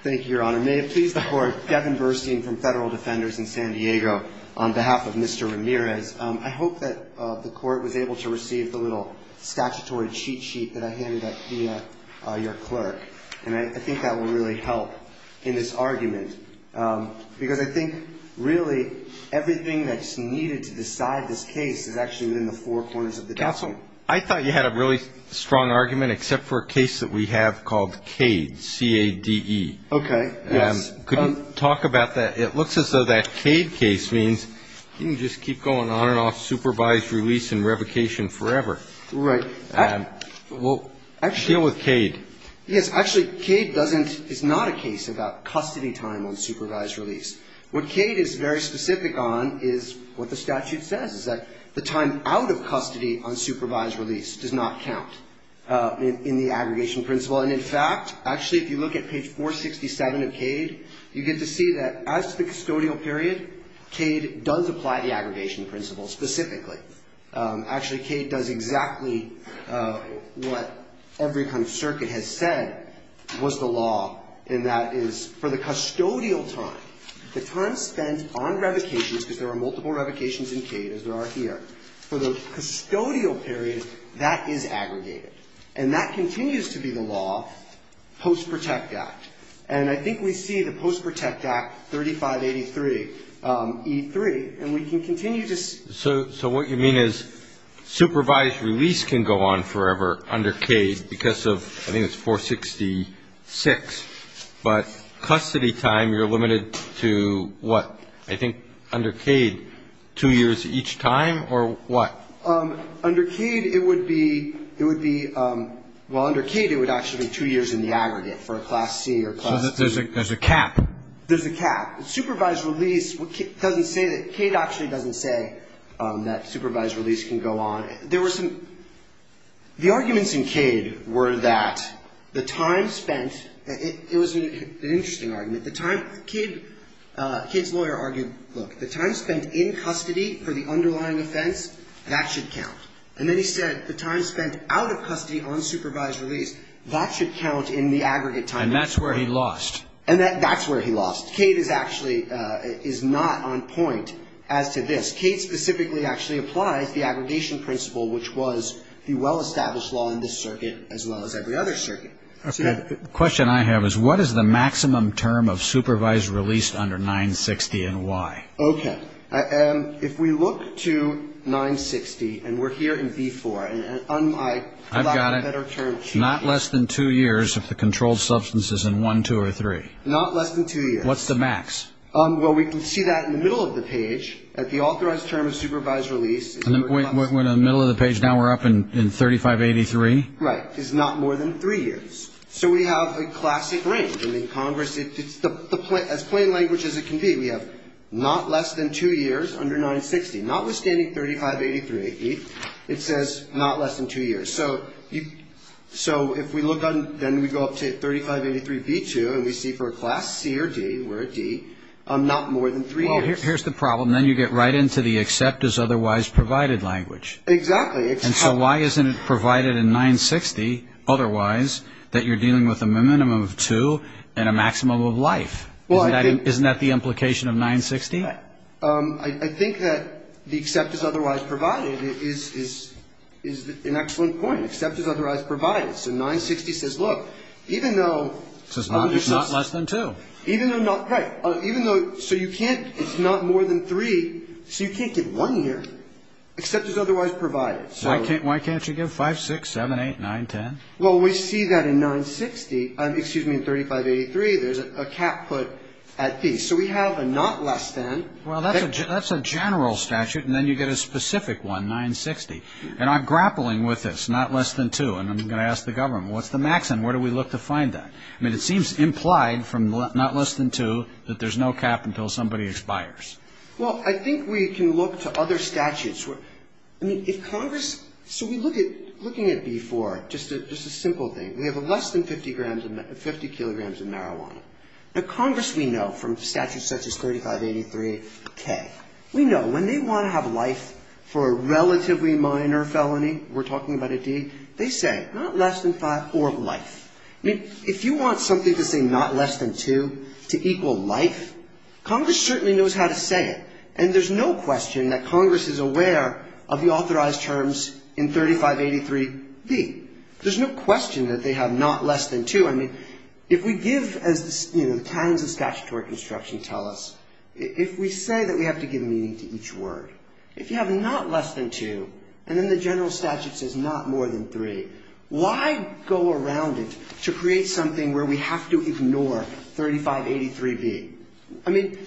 Thank you, Your Honor. May it please the Court, Devin Burstein from Federal Defenders in San Diego. On behalf of Mr. Ramirez, I hope that the Court was able to receive the little statutory cheat sheet that I handed out via your clerk. And I think that will really help in this argument. Because I think, really, everything that's needed to decide this case is actually within the four corners of the desk. Counsel? I thought you had a really strong argument, except for a case that we have called Cade, C-A-D-E. Okay. Yes. Could you talk about that? It looks as though that Cade case means you can just keep going on and off supervised release and revocation forever. Right. Deal with Cade. Yes. Actually, Cade doesn't, is not a case about custody time on supervised release. What Cade is very specific on is what the statute says, is that the time out of custody on supervised release does not count in the aggregation principle. And in fact, actually, if you look at page 467 of Cade, you get to see that as the custodial period, Cade does apply the aggregation principle specifically. Actually, Cade does exactly what every kind of circuit has said was the law, and that is for the custodial time, the time spent on revocations, because there are multiple revocations in Cade, as there are here, for the custodial period, that is aggregated. And that continues to be the law post-Protect Act. And I think we see the post-Protect Act 3583E3, and we can continue to see. So what you mean is supervised release can go on forever under Cade because of, I think it's 466, but custody time, you're limited to what? I think under Cade, two years each time, or what? Under Cade, it would be, well, under Cade, it would actually be two years in the aggregate for a Class C or Class C. So there's a cap. There's a cap. Supervised release doesn't say, Cade actually doesn't say that supervised release can go on. There were some, the arguments in Cade were that the time spent, it was an interesting argument, the time, Cade's lawyer argued, look, the time spent in custody for the underlying offense, that should count. And then he said the time spent out of custody on supervised release, that should count in the aggregate time. And that's where he lost. And that's where he lost. Cade is actually, is not on point as to this. Cade specifically actually applies the aggregation principle, which was the well-established law in this circuit, as well as every other circuit. Okay. The question I have is what is the maximum term of supervised release under 960 and why? Okay. If we look to 960, and we're here in V4, and I've got a better term. Not less than two years if the controlled substance is in 1, 2, or 3. Not less than two years. What's the max? Well, we can see that in the middle of the page. At the authorized term of supervised release. We're in the middle of the page. Now we're up in 3583. Right. It's not more than three years. So we have a classic range. I mean, Congress, as plain language as it can be, we have not less than two years under 960. Notwithstanding 3583, it says not less than two years. So if we look on, then we go up to 3583B2, and we see for a class C or D, we're at D, not more than three years. Well, here's the problem. Then you get right into the except as otherwise provided language. Exactly. And so why isn't it provided in 960 otherwise that you're dealing with a minimum of two and a maximum of life? Isn't that the implication of 960? I think that the except as otherwise provided is an excellent point. Except as otherwise provided. So 960 says, look, even though. It's not less than two. Even though. So you can't. It's not more than three. So you can't get one year except as otherwise provided. Why can't you give five, six, seven, eight, nine, ten? Well, we see that in 960. Excuse me, in 3583, there's a cap put at D. So we have a not less than. Well, that's a general statute, and then you get a specific one, 960. And I'm grappling with this, not less than two, and I'm going to ask the government. What's the maximum? Where do we look to find that? I mean, it seems implied from not less than two that there's no cap until somebody expires. Well, I think we can look to other statutes. I mean, if Congress so we look at looking at B4, just a simple thing. We have less than 50 kilograms of marijuana. Now, Congress, we know from statutes such as 3583K, we know when they want to have life for a relatively minor felony, we're talking about a D, they say not less than five or life. I mean, if you want something to say not less than two to equal life, Congress certainly knows how to say it. And there's no question that Congress is aware of the authorized terms in 3583D. There's no question that they have not less than two. I mean, if we give, as the, you know, the canons of statutory construction tell us, if we say that we have to give meaning to each word, if you have not less than two, and then the general statute says not more than three, why go around it to create something where we have to ignore 3583B? I mean,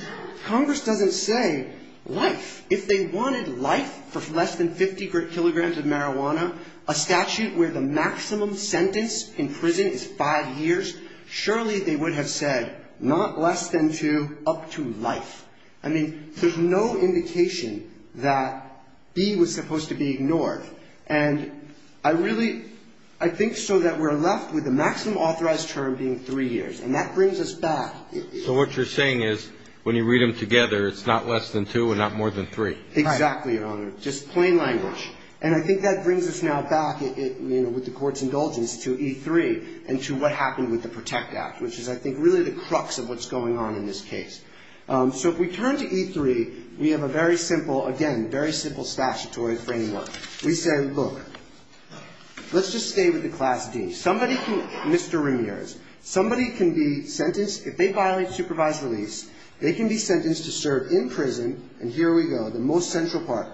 Congress doesn't say life. If they wanted life for less than 50 kilograms of marijuana, a statute where the maximum sentence in prison is five years, surely they would have said not less than two up to life. I mean, there's no indication that B was supposed to be ignored. And I really, I think so that we're left with the maximum authorized term being three years. And that brings us back. So what you're saying is when you read them together, it's not less than two and not more than three. Exactly, Your Honor. Just plain language. And I think that brings us now back, you know, with the Court's indulgence, to E3 and to what happened with the PROTECT Act, which is, I think, really the crux of what's going on in this case. So if we turn to E3, we have a very simple, again, very simple statutory framework. We say, look, let's just stay with the Class D. Somebody can, Mr. Ramirez, somebody can be sentenced, if they violate supervised release, they can be sentenced to serve in prison. And here we go, the most central part.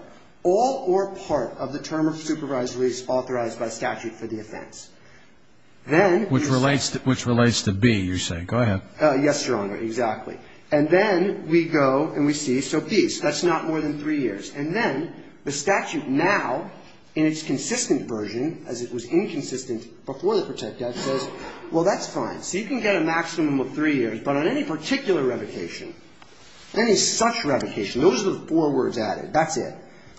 All or part of the term of supervised release authorized by statute for the offense. Then we see. Which relates to B, you're saying. Go ahead. Yes, Your Honor, exactly. And then we go and we see. So B, that's not more than three years. And then the statute now, in its consistent version, as it was inconsistent before the PROTECT Act, says, well, that's fine. So you can get a maximum of three years. But on any particular revocation, any such revocation, those are the four words added. That's it.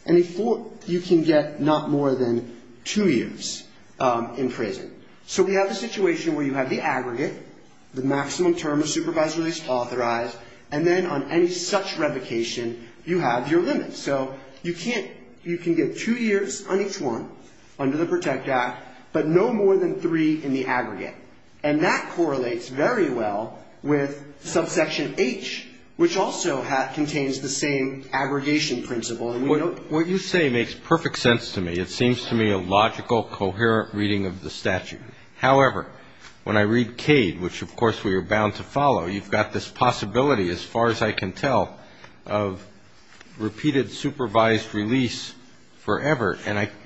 Any four, you can get not more than two years in prison. So we have a situation where you have the aggregate, the maximum term of supervised release authorized, and then on any such revocation, you have your limits. So you can't, you can get two years on each one under the PROTECT Act, but no more than three in the aggregate. And that correlates very well with subsection H, which also contains the same aggregation principle. And we don't. What you say makes perfect sense to me. It seems to me a logical, coherent reading of the statute. However, when I read Cade, which of course we are bound to follow, you've got this possibility, as far as I can tell, of repeated supervised release forever.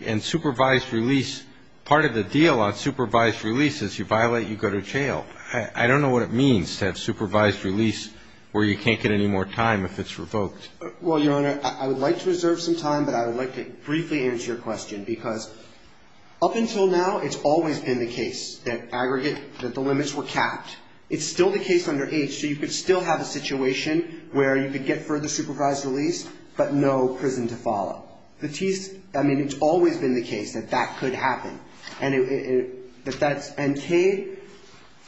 And supervised release, part of the deal on supervised release is you violate, you go to jail. I don't know what it means to have supervised release where you can't get any more time if it's revoked. Well, Your Honor, I would like to reserve some time, but I would like to briefly answer your question. Because up until now, it's always been the case that aggregate, that the limits were capped. It's still the case under H. So you could still have a situation where you could get further supervised release, but no prison to follow. I mean, it's always been the case that that could happen. And Cade,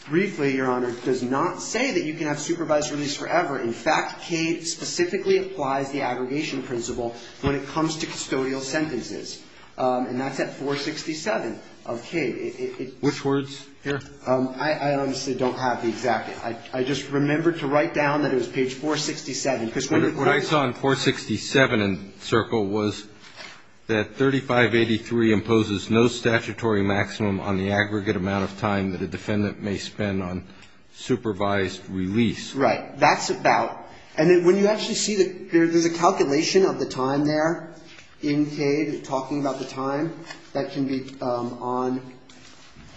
briefly, Your Honor, does not say that you can have supervised release forever. In fact, Cade specifically applies the aggregation principle when it comes to custodial sentences. And that's at 467 of Cade. Which words here? I honestly don't have the exact. I just remembered to write down that it was page 467. What it writes on 467 in Circle was that 3583 imposes no statutory maximum on the aggregate amount of time that a defendant may spend on supervised release. Right. That's about. And when you actually see that there's a calculation of the time there in Cade, talking about the time, that can be on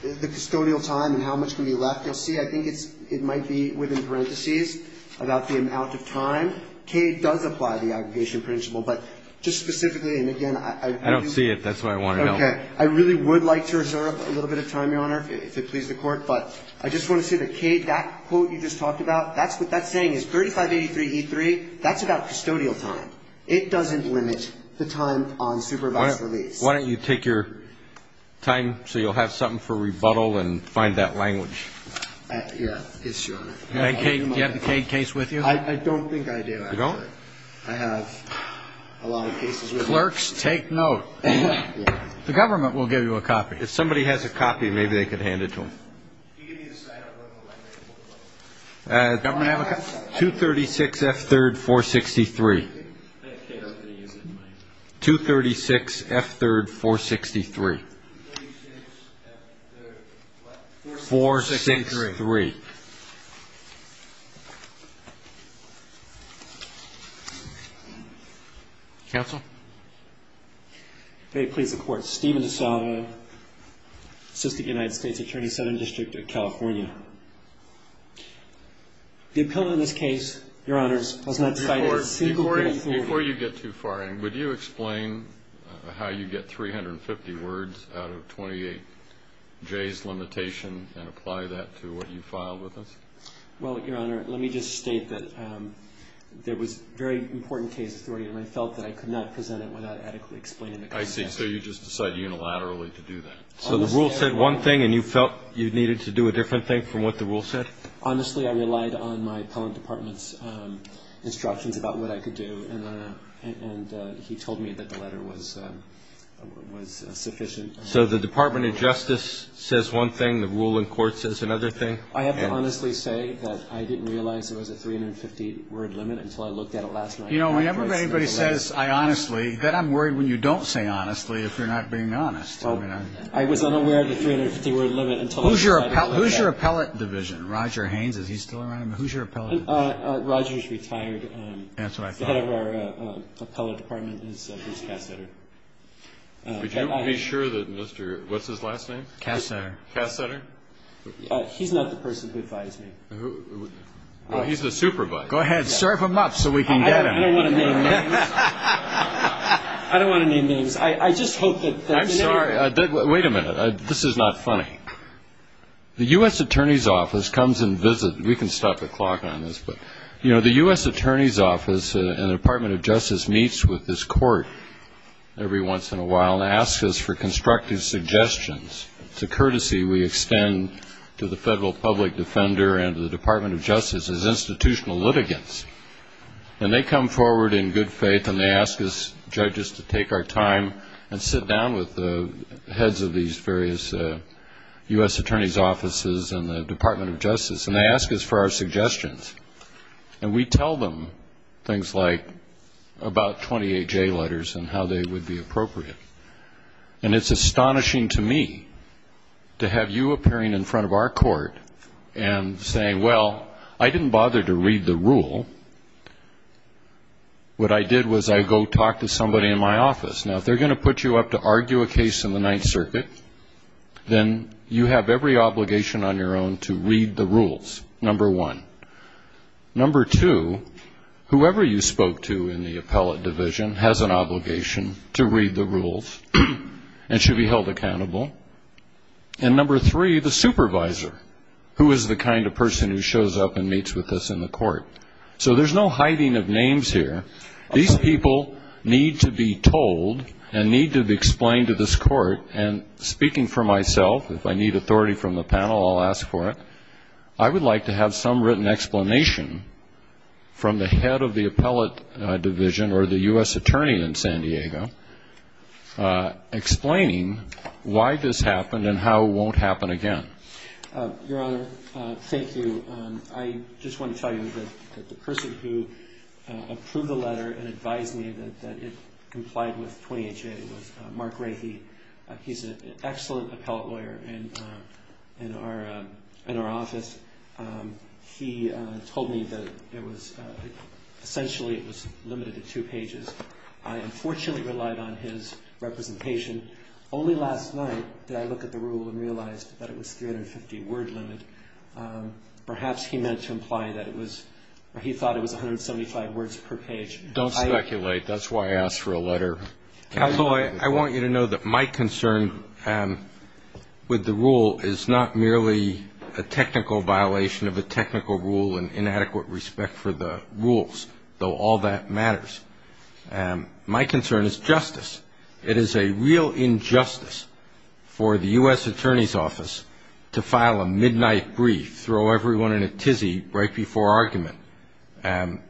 the custodial time and how much can be left. You'll see, I think it might be within parentheses about the amount of time. Cade does apply the aggregation principle. But just specifically, and again, I. I don't see it. That's why I want to know. Okay. I really would like to reserve a little bit of time, Your Honor, if it pleases the Court. But I just want to say that Cade, that quote you just talked about, that's what that's saying is 3583 E3. That's about custodial time. It doesn't limit the time on supervised release. Why don't you take your time so you'll have something for rebuttal and find that language. Yeah. It's your. Do you have the Cade case with you? I don't think I do. You don't? I have a lot of cases with me. Clerks, take note. The government will give you a copy. If somebody has a copy, maybe they could hand it to him. Can you give me the sign-up number? Government have a copy? 236 F3rd 463. 236 F3rd 463. 463. Counsel? If it pleases the Court, Stephen DeSalvo, Assistant United States Attorney, Southern District of California. The appellant in this case, Your Honors, was not cited. Before you get too far in, would you explain how you get 350 words out of 28J's limitation and apply that to what you filed with us? Well, Your Honor, let me just state that there was very important case authority, and I felt that I could not present it without adequately explaining the context. I see. So you just decided unilaterally to do that. So the rule said one thing, and you felt you needed to do a different thing from what the rule said? Honestly, I relied on my appellant department's instructions about what I could do, and he told me that the letter was sufficient. So the Department of Justice says one thing, the rule in court says another thing? I have to honestly say that I didn't realize there was a 350-word limit until I looked at it last night. You know, whenever anybody says, I honestly, then I'm worried when you don't say honestly if you're not being honest. I was unaware of the 350-word limit until I looked at it last night. Who's your appellant division? Roger Haynes, is he still around? Who's your appellant division? Roger's retired. That's what I thought. The head of our appellant department is Bruce Kassetter. Would you be sure that Mr. What's-his-last-name? Kassetter. Kassetter? He's not the person who advised me. Well, he's the supervisor. Go ahead. Serve him up so we can get him. I don't want to name names. I don't want to name names. I just hope that they're familiar. I'm sorry. Wait a minute. This is not funny. The U.S. Attorney's Office comes and visits. We can stop the clock on this. But, you know, the U.S. Attorney's Office and the Department of Justice meets with this court every once in a while and asks us for constructive suggestions. It's a courtesy we extend to the federal public defender and the Department of Justice as institutional litigants. And they come forward in good faith, and they ask us judges to take our time and sit down with the heads of these various U.S. Attorney's Offices and the Department of Justice, and they ask us for our suggestions. And we tell them things like about 28 J letters and how they would be appropriate. And it's astonishing to me to have you appearing in front of our court and saying, well, I didn't bother to read the rule. What I did was I go talk to somebody in my office. Now, if they're going to put you up to argue a case in the Ninth Circuit, then you have every obligation on your own to read the rules, number one. Number two, whoever you spoke to in the appellate division has an obligation to read the rules and should be held accountable. And number three, the supervisor, who is the kind of person who shows up and meets with us in the court. So there's no hiding of names here. These people need to be told and need to be explained to this court. And speaking for myself, if I need authority from the panel, I'll ask for it. I would like to have some written explanation from the head of the appellate division or the U.S. attorney in San Diego explaining why this happened and how it won't happen again. Your Honor, thank you. I just want to tell you that the person who approved the letter and advised me that it complied with 28 J was Mark Ray. He's an excellent appellate lawyer in our office. He told me that it was essentially it was limited to two pages. I unfortunately relied on his representation. Only last night did I look at the rule and realized that it was 350-word limit. Perhaps he meant to imply that it was or he thought it was 175 words per page. Don't speculate. That's why I asked for a letter. Counsel, I want you to know that my concern with the rule is not merely a technical violation of a technical rule and inadequate respect for the rules, though all that matters. My concern is justice. It is a real injustice for the U.S. Attorney's Office to file a midnight brief, throw everyone in a tizzy right before argument. And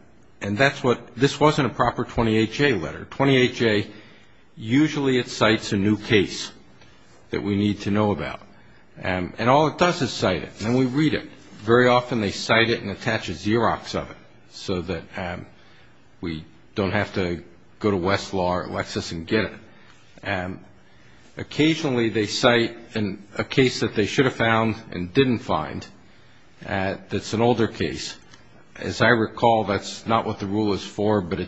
that's what this wasn't a proper 28 J letter. 28 J, usually it cites a new case that we need to know about. And all it does is cite it. And we read it. Very often they cite it and attach a Xerox of it so that we don't have to go to Westlaw or Lexis and get it. Occasionally they cite a case that they should have found and didn't find that's an older case. As I recall, that's not what the rule is for, but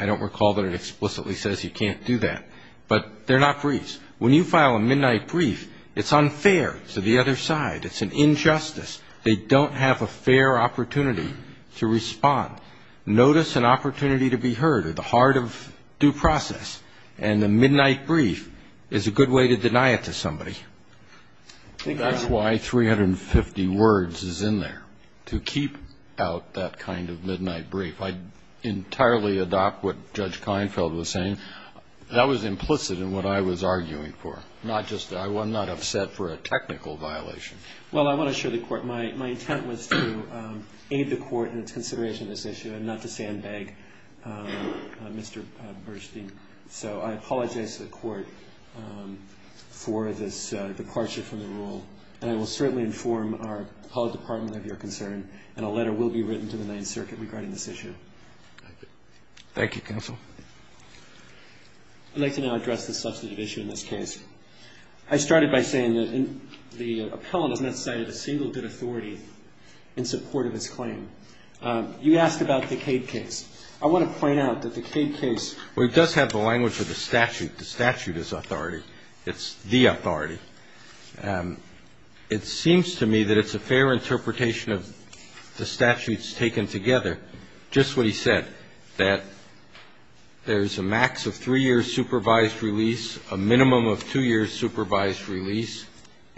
I don't recall that it explicitly says you can't do that. But they're not briefs. When you file a midnight brief, it's unfair to the other side. It's an injustice. They don't have a fair opportunity to respond. Notice an opportunity to be heard at the heart of due process. And a midnight brief is a good way to deny it to somebody. I think that's why 350 words is in there, to keep out that kind of midnight brief. I entirely adopt what Judge Keinfeld was saying. That was implicit in what I was arguing for. I was not upset for a technical violation. Well, I want to assure the Court my intent was to aid the Court in its consideration of this issue and not to sandbag Mr. Burstein. So I apologize to the Court for this departure from the rule, and I will certainly inform our public department of your concern, and a letter will be written to the Ninth Circuit regarding this issue. Thank you. Thank you, counsel. I'd like to now address the substantive issue in this case. I started by saying that the appellant has not cited a single good authority in support of his claim. You asked about the Cade case. I want to point out that the Cade case does have the language of the statute. The statute is authority. It's the authority. It seems to me that it's a fair interpretation of the statutes taken together, just what he said, that there's a max of three years' supervised release, a minimum of two years' supervised release,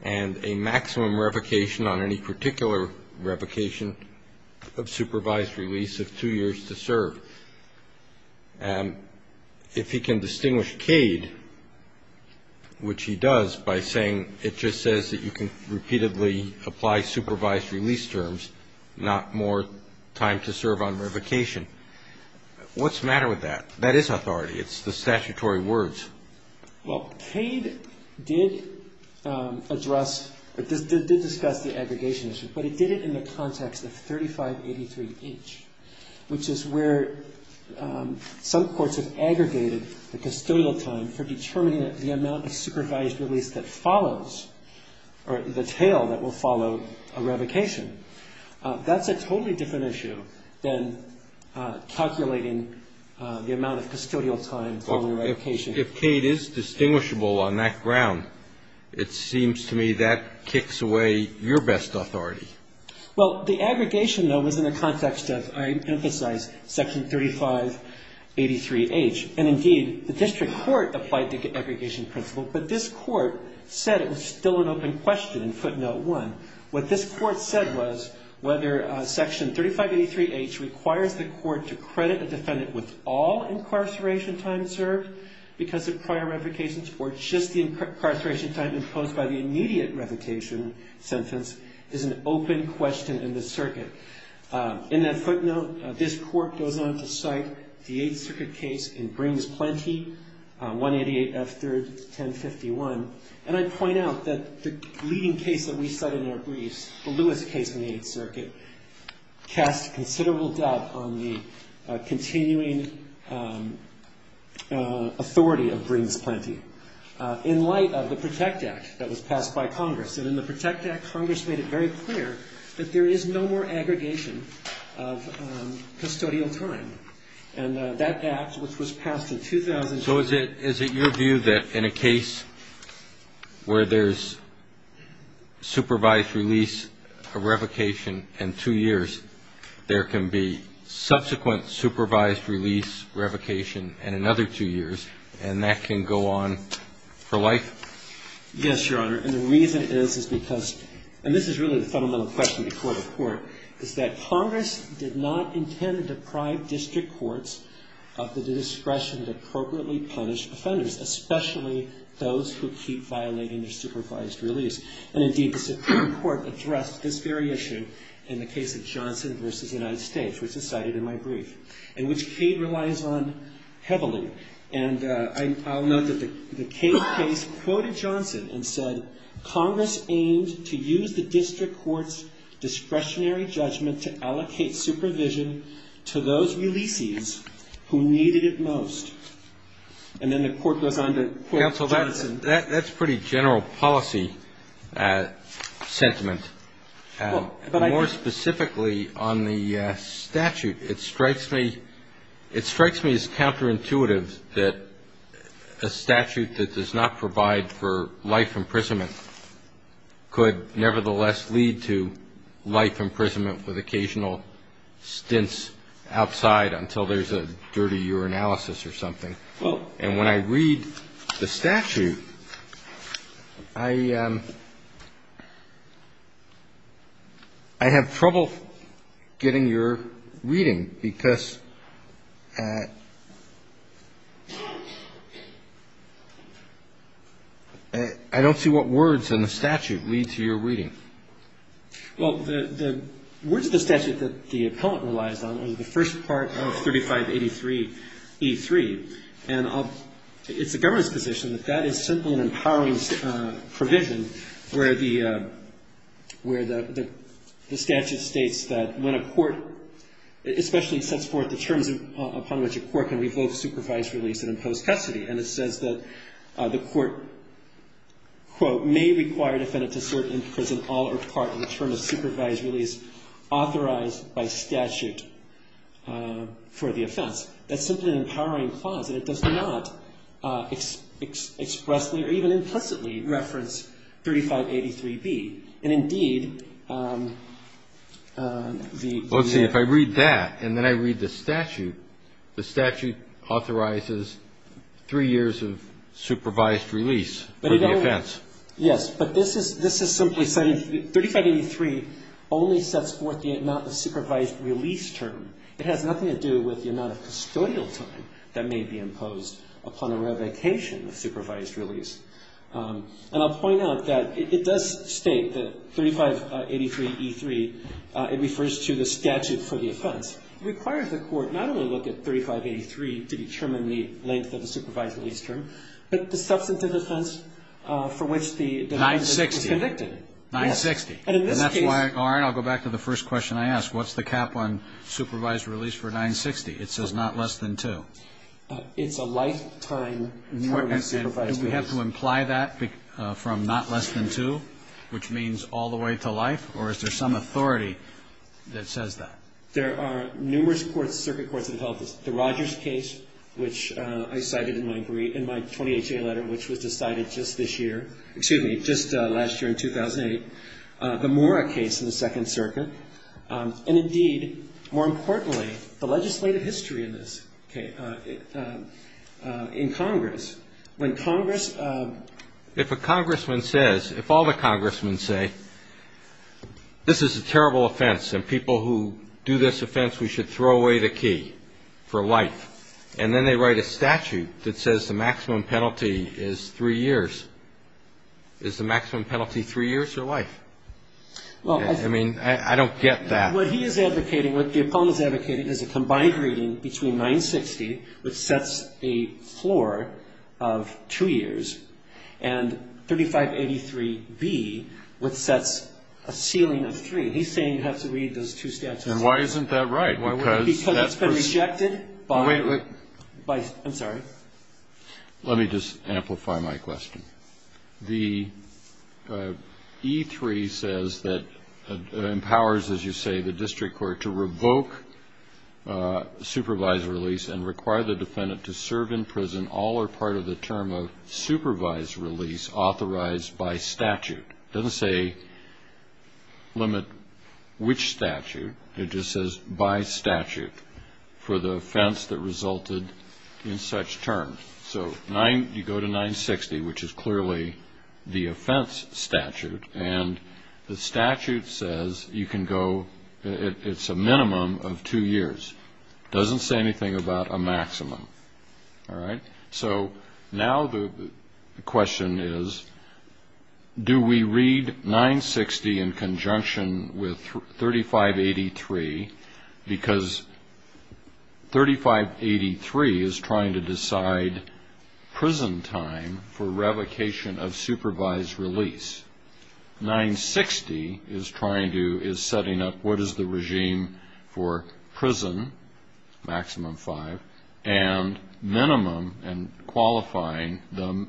and a maximum revocation on any particular revocation of supervised release of two years to serve. And if he can distinguish Cade, which he does, by saying it just says that you can repeatedly apply supervised release terms, not more time to serve on revocation, what's the matter with that? That is authority. It's the statutory words. Well, Cade did address or did discuss the aggregation issue, but he did it in the context of 3583H, which is where some courts have aggregated the custodial time for determining the amount of supervised release that follows or the tail that will follow a revocation. That's a totally different issue than calculating the amount of custodial time following a revocation. If Cade is distinguishable on that ground, it seems to me that kicks away your best authority. Well, the aggregation, though, was in the context of, I emphasize, Section 3583H. And, indeed, the district court applied the aggregation principle, but this court said it was still an open question in footnote 1. What this court said was whether Section 3583H requires the court to credit a defendant with all incarceration time served because of prior revocations or just the incarceration time imposed by the immediate revocation sentence is an open question in the circuit. In that footnote, this court goes on to cite the Eighth Circuit case in Brings Plenty, 188 F. 3rd, 1051. And I point out that the leading case that we cite in our briefs, the Lewis case in the Eighth Circuit, casts considerable doubt on the continuing authority of Brings Plenty. In light of the PROTECT Act that was passed by Congress, and in the PROTECT Act, Congress made it very clear that there is no more aggregation of custodial time. And that act, which was passed in 2000 to 2000. So you're saying that in a case where there's supervised release, a revocation in two years, there can be subsequent supervised release, revocation in another two years, and that can go on for life? Yes, Your Honor. And the reason is, is because, and this is really the fundamental question to court of court, is that Congress did not intend to deprive district courts of the discretion to appropriately punish offenders, especially those who keep violating their supervised release. And indeed, the Supreme Court addressed this very issue in the case of Johnson v. United States, which is cited in my brief, and which Cade relies on heavily. And I'll note that the Cade case quoted Johnson and said, Congress aimed to use the district court's discretionary judgment to allocate supervision to those releases who needed it most. And then the court goes on to quote Johnson. Counsel, that's pretty general policy sentiment. More specifically on the statute, it strikes me, it is counterintuitive that a statute that does not provide for life imprisonment could nevertheless lead to life imprisonment with occasional stints outside until there's a dirty urinalysis or something. And when I read the statute, I have trouble getting your reading, because I don't see what words in the statute lead to your reading. Well, the words of the statute that the appellant relies on are the first part of 3583e3. And it's the government's position that that is simply an empowerment provision where the statute states that when a court, especially sets forth the terms upon which a court can revoke supervised release and impose custody, and it says that the court, quote, may require defendant to serve in prison all or part of the term of supervised release authorized by statute for the offense. That's simply an empowering clause, and it does not expressly or even implicitly reference 3583b. And, indeed, the may have to be. Let's see. If I read that and then I read the statute, the statute authorizes three years of supervised release for the offense. Yes. But this is simply saying 3583 only sets forth the amount of supervised release term. It has nothing to do with the amount of custodial time that may be imposed upon a revocation of supervised release. And I'll point out that it does state that 3583e3, it refers to the statute for the offense, requires the court not only look at 3583 to determine the length of the supervised release term, but the substantive offense for which the defendant was convicted. 960. Yes. 960. And that's why, Arne, I'll go back to the first question I asked. What's the cap on supervised release for 960? It says not less than two. It's a lifetime term of supervised release. Do we have to imply that from not less than two, which means all the way to life? Or is there some authority that says that? There are numerous courts, circuit courts, that have helped us. The Rogers case, which I cited in my 20HA letter, which was decided just this year, excuse me, just last year in 2008. The Mora case in the Second Circuit. And, indeed, more importantly, the legislative history in this, okay, in Congress. When Congress ‑‑ If a congressman says, if all the congressmen say, this is a terrible offense and people who do this offense, we should throw away the key for life, and then they write a statute that says the maximum penalty is three years, is the maximum penalty three years or life? I mean, I don't get that. What he is advocating, what the opponent is advocating is a combined reading between 960, which sets a floor of two years, and 3583B, which sets a ceiling of three. He's saying you have to read those two statutes. And why isn't that right? Because it's been rejected by ‑‑ Wait, wait. I'm sorry. Let me just amplify my question. The E3 says that it empowers, as you say, the district court to revoke supervised release and require the defendant to serve in prison all or part of the term of supervised release authorized by statute. It doesn't say limit which statute. It just says by statute for the offense that resulted in such terms. So you go to 960, which is clearly the offense statute, and the statute says you can go ‑‑ it's a minimum of two years. It doesn't say anything about a maximum. All right? So now the question is do we read 960 in conjunction with 3583 because 3583 is trying to decide prison time for revocation of supervised release. 960 is trying to ‑‑ is setting up what is the regime for prison, maximum five, and minimum and qualifying the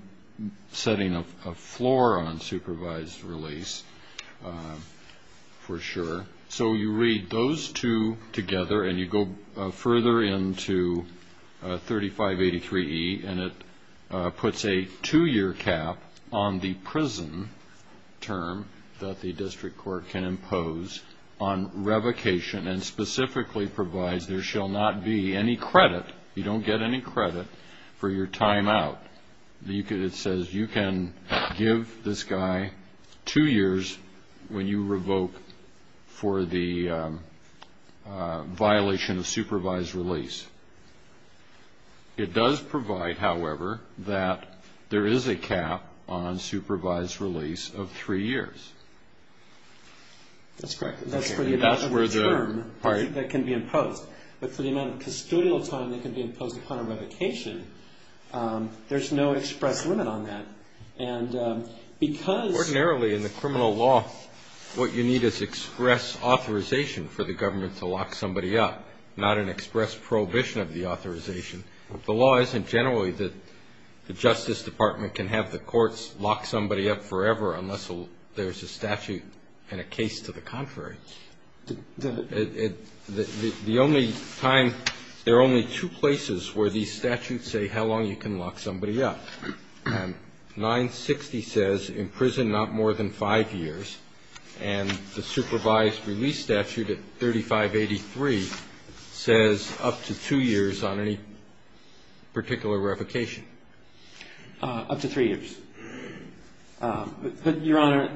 setting of a floor on supervised release for sure. So you read those two together and you go further into 3583E and it puts a two‑year cap on the prison term that the district court can impose on revocation and specifically provides there shall not be any credit. You don't get any credit for your time out. It says you can give this guy two years when you revoke for the violation of supervised release. It does provide, however, that there is a cap on supervised release of three years. That's correct. That's for the amount of time that can be imposed. But for the amount of custodial time that can be imposed upon a revocation, there's no express limit on that. And because ‑‑ Ordinarily in the criminal law what you need is express authorization for the government to lock somebody up, not an express prohibition of the authorization. The law isn't generally that the Justice Department can have the courts lock somebody up forever The only time ‑‑ there are only two places where these statutes say how long you can lock somebody up. 960 says in prison not more than five years. And the supervised release statute at 3583 says up to two years on any particular revocation. Up to three years. Your Honor,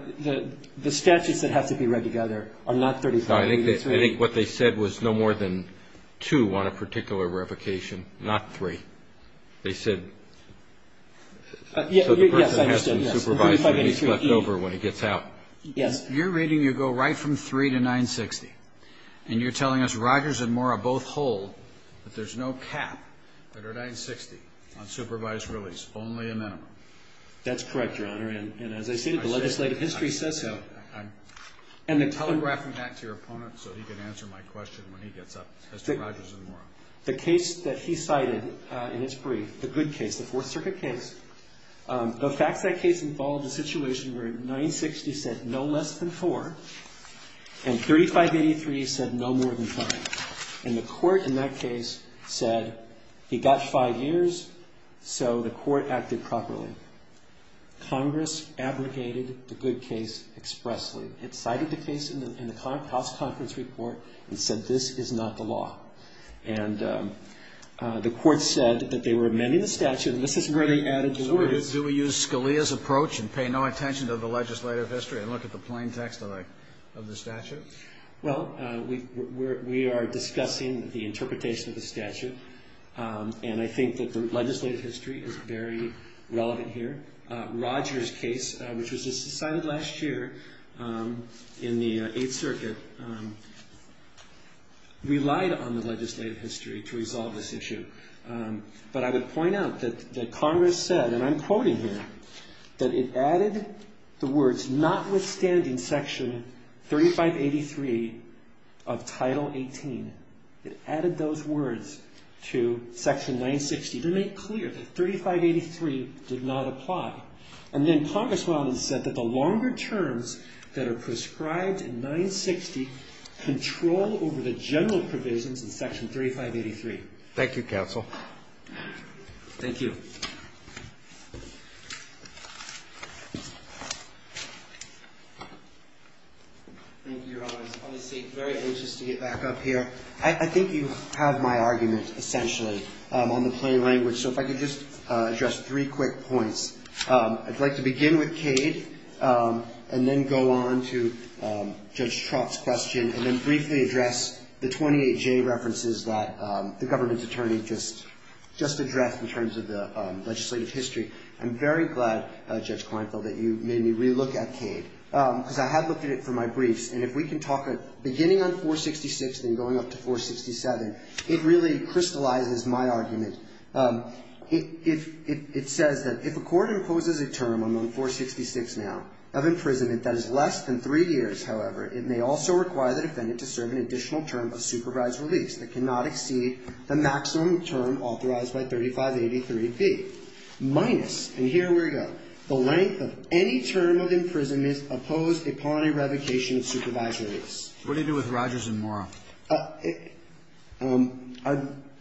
the statutes that have to be read together are not 3583. I think what they said was no more than two on a particular revocation, not three. They said so the person has some supervised release left over when he gets out. Yes. You're reading you go right from 3 to 960, and you're telling us Rogers and Mora both hold that there's no cap under 960 on supervised release, only a minimum. That's correct, Your Honor. And as I stated, the legislative history says so. I'm telegraphing that to your opponent so he can answer my question when he gets up, Mr. Rogers and Mora. The case that he cited in his brief, the good case, the Fourth Circuit case, the facts of that case involved a situation where 960 said no less than four, and 3583 said no more than five. And the court in that case said he got five years, so the court acted properly. Congress abrogated the good case expressly. It cited the case in the House Conference Report and said this is not the law. And the court said that they were amending the statute, and this is where they added the words. So do we use Scalia's approach and pay no attention to the legislative history and look at the plain text of the statute? Well, we are discussing the interpretation of the statute, and I think that the legislative history is very relevant here. Rogers' case, which was just decided last year in the Eighth Circuit, relied on the legislative history to resolve this issue. But I would point out that Congress said, and I'm quoting here, that it added the words notwithstanding Section 3583 of Title 18. It added those words to Section 960 to make clear that 3583 did not apply. And then Congress went on and said that the longer terms that are prescribed in 960 control over the general provisions in Section 3583. Thank you, Counsel. Thank you. Thank you, Your Honor. It's obviously very interesting to get back up here. I think you have my argument, essentially, on the plain language. So if I could just address three quick points. I'd like to begin with Cade and then go on to Judge Trott's question and then briefly address the 28J references that the government's attorney just addressed in terms of the legislative history. I'm very glad, Judge Kleinfeld, that you made me re-look at Cade, because I have looked at it for my briefs. And if we can talk, beginning on 466 and going up to 467, it really crystallizes my argument. It says that if a court imposes a term on 466 now of imprisonment that is less than three years, however, it may also require the defendant to serve an additional term of supervised release that cannot exceed the maximum term authorized by 3583B, minus, and here we go, the length of any term of imprisonment opposed upon a revocation of supervised release. What do you do with Rogers and Mora?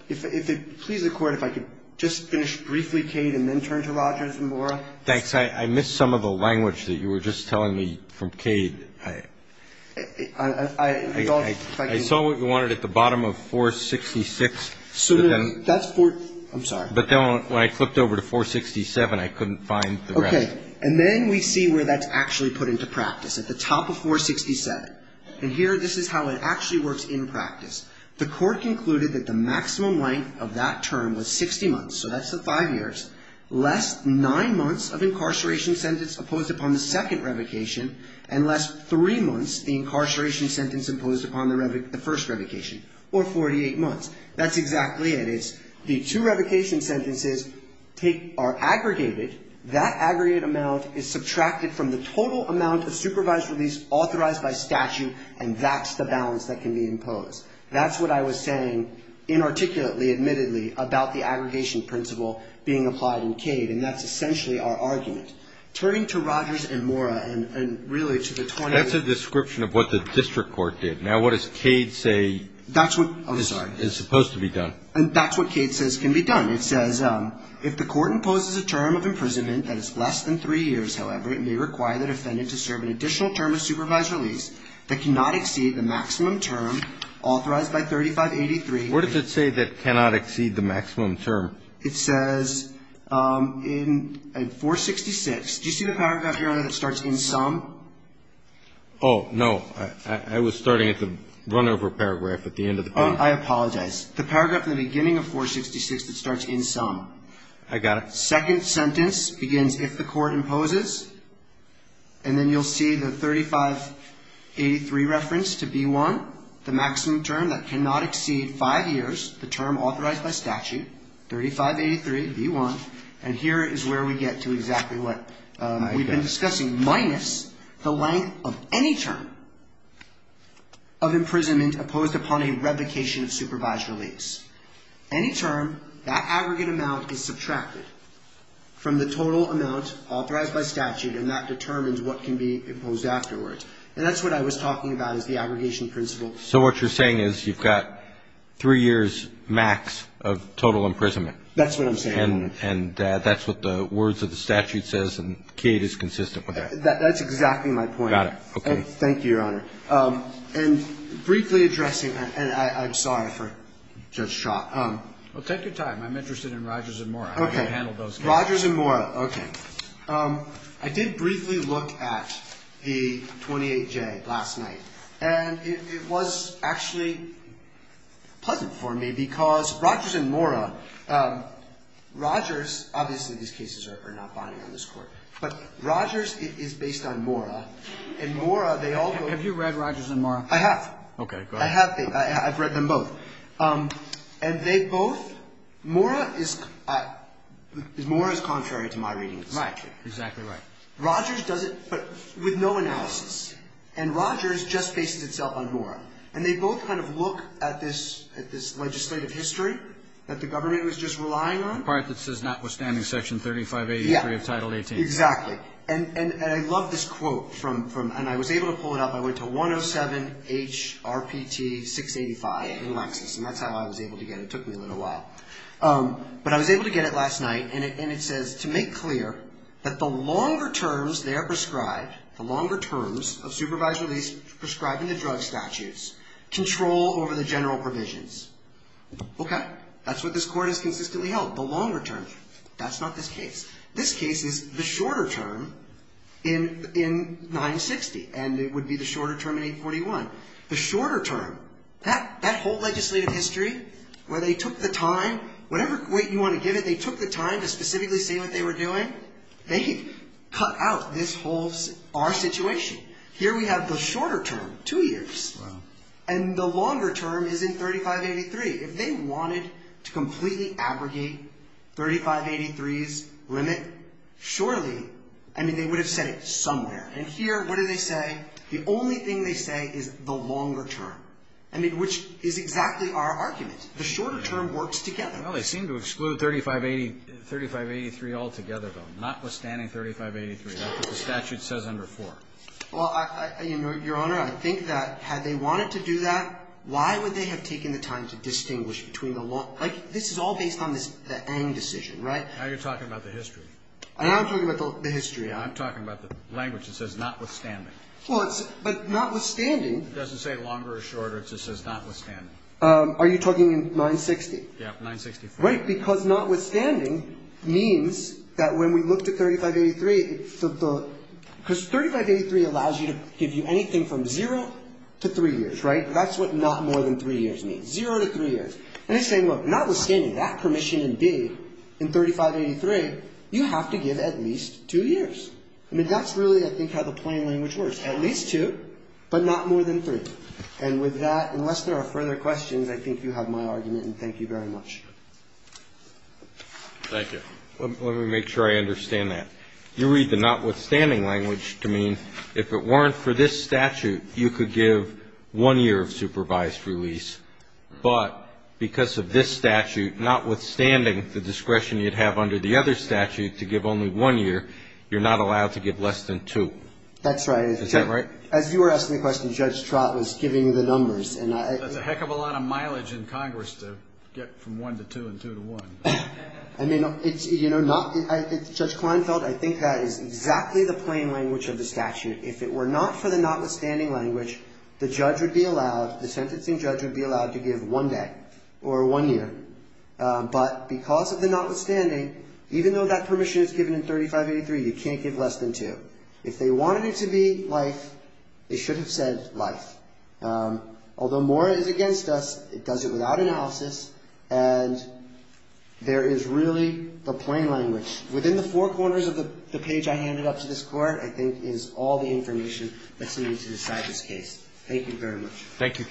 If it please the Court, if I could just finish briefly Cade and then turn to Rogers and Mora. Thanks. I missed some of the language that you were just telling me from Cade. I saw what you wanted at the bottom of 466. I'm sorry. But then when I flipped over to 467, I couldn't find the rest. Okay. And then we see where that's actually put into practice, at the top of 467. And here, this is how it actually works in practice. The Court concluded that the maximum length of that term was 60 months, so that's the five years, less nine months of incarceration sentence opposed upon the second revocation, and less three months the incarceration sentence opposed upon the first revocation, or 48 months. That's exactly it. It's the two revocation sentences are aggregated. That aggregate amount is subtracted from the total amount of supervised release authorized by statute, and that's the balance that can be imposed. That's what I was saying inarticulately, admittedly, about the aggregation principle being applied in Cade, and that's essentially our argument. Turning to Rogers and Mora, and really to the 20- That's a description of what the district court did. Now, what does Cade say is supposed to be done? That's what Cade says can be done. It says, If the court imposes a term of imprisonment that is less than three years, however, it may require the defendant to serve an additional term of supervised release that cannot exceed the maximum term authorized by 3583. What does it say that cannot exceed the maximum term? It says in 466. Do you see the paragraph here on it that starts in sum? Oh, no. I was starting at the run-over paragraph at the end of the paragraph. I apologize. The paragraph at the beginning of 466 that starts in sum. I got it. Second sentence begins, if the court imposes, and then you'll see the 3583 reference to B1, the maximum term that cannot exceed five years, the term authorized by statute, 3583, B1, and here is where we get to exactly what we've been discussing, minus the length of any term of imprisonment opposed upon a revocation of supervised release. Any term, that aggregate amount is subtracted from the total amount authorized by statute, and that determines what can be imposed afterwards. And that's what I was talking about is the aggregation principle. So what you're saying is you've got three years max of total imprisonment. That's what I'm saying. And that's what the words of the statute says, and Kate is consistent with that. That's exactly my point. Got it. Okay. Thank you, Your Honor. And briefly addressing, and I'm sorry for Judge Schott. Well, take your time. I'm interested in Rogers and Mora. Okay. How do you handle those cases? Rogers and Mora. Okay. I did briefly look at the 28J last night, and it was actually pleasant for me because Rogers and Mora, Rogers, obviously these cases are not binding on this Court, but Rogers is based on Mora, and Mora, they all go. Have you read Rogers and Mora? I have. Okay. Go ahead. I have. I've read them both. And they both, Mora is, Mora is contrary to my readings. Right. Exactly right. Rogers does it with no analysis, and Rogers just bases itself on Mora. And they both kind of look at this legislative history that the government was just relying on. The part that says notwithstanding Section 3583 of Title 18. Yeah. Exactly. And I love this quote from, and I was able to pull it up. I went to 107 HRPT 685 in Lexis, and that's how I was able to get it. It took me a little while. But I was able to get it last night, and it says, to make clear that the longer terms they are prescribed, the longer terms of supervisory prescribing the drug statutes, control over the general provisions. Okay. That's what this Court has consistently held, the longer term. That's not this case. This case is the shorter term in 960, and it would be the shorter term in 841. The shorter term, that whole legislative history where they took the time, whatever weight you want to give it, they took the time to specifically see what they were doing. They cut out this whole, our situation. Here we have the shorter term, two years. Wow. And the longer term is in 3583. If they wanted to completely abrogate 3583's limit, surely, I mean, they would have said it somewhere. And here, what do they say? The only thing they say is the longer term, I mean, which is exactly our argument. The shorter term works together. Well, they seem to exclude 3583 altogether, though, notwithstanding 3583. That's what the statute says under 4. Well, Your Honor, I think that had they wanted to do that, why would they have taken the time to distinguish between the long? Like, this is all based on the Ng decision, right? Now you're talking about the history. And I'm talking about the history. I'm talking about the language that says notwithstanding. Well, but notwithstanding. It doesn't say longer or shorter. It just says notwithstanding. Are you talking in 960? Yeah, 964. Right, because notwithstanding means that when we look to 3583, because 3583 allows you to give you anything from zero to three years, right? That's what not more than three years means, zero to three years. And they say, look, notwithstanding that permission in D, in 3583, you have to give at least two years. I mean, that's really, I think, how the plain language works, at least two, but not more than three. And with that, unless there are further questions, I think you have my argument, and thank you very much. Thank you. Let me make sure I understand that. You read the notwithstanding language to mean if it weren't for this statute, you could give one year of supervised release. But because of this statute, notwithstanding the discretion you'd have under the other statute to give only one year, you're not allowed to give less than two. That's right. Is that right? As you were asking the question, Judge Trott was giving the numbers. That's a heck of a lot of mileage in Congress to get from one to two and two to one. I mean, it's, you know, not, Judge Kleinfeld, I think that is exactly the plain language of the statute. If it were not for the notwithstanding language, the judge would be allowed, the sentencing judge would be allowed to give one day or one year. But because of the notwithstanding, even though that permission is given in 3583, you can't give less than two. If they wanted it to be life, they should have said life. Although Mora is against us, it does it without analysis, and there is really the plain language. Within the four corners of the page I handed up to this Court, I think, is all the information that's needed to decide this case. Thank you, counsel. Thank you.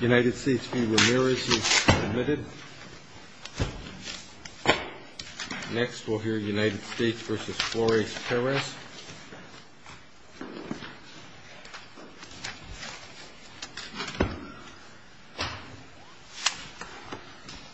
United States v. Ramirez is admitted. Next, we'll hear United States v. Flores-Perez.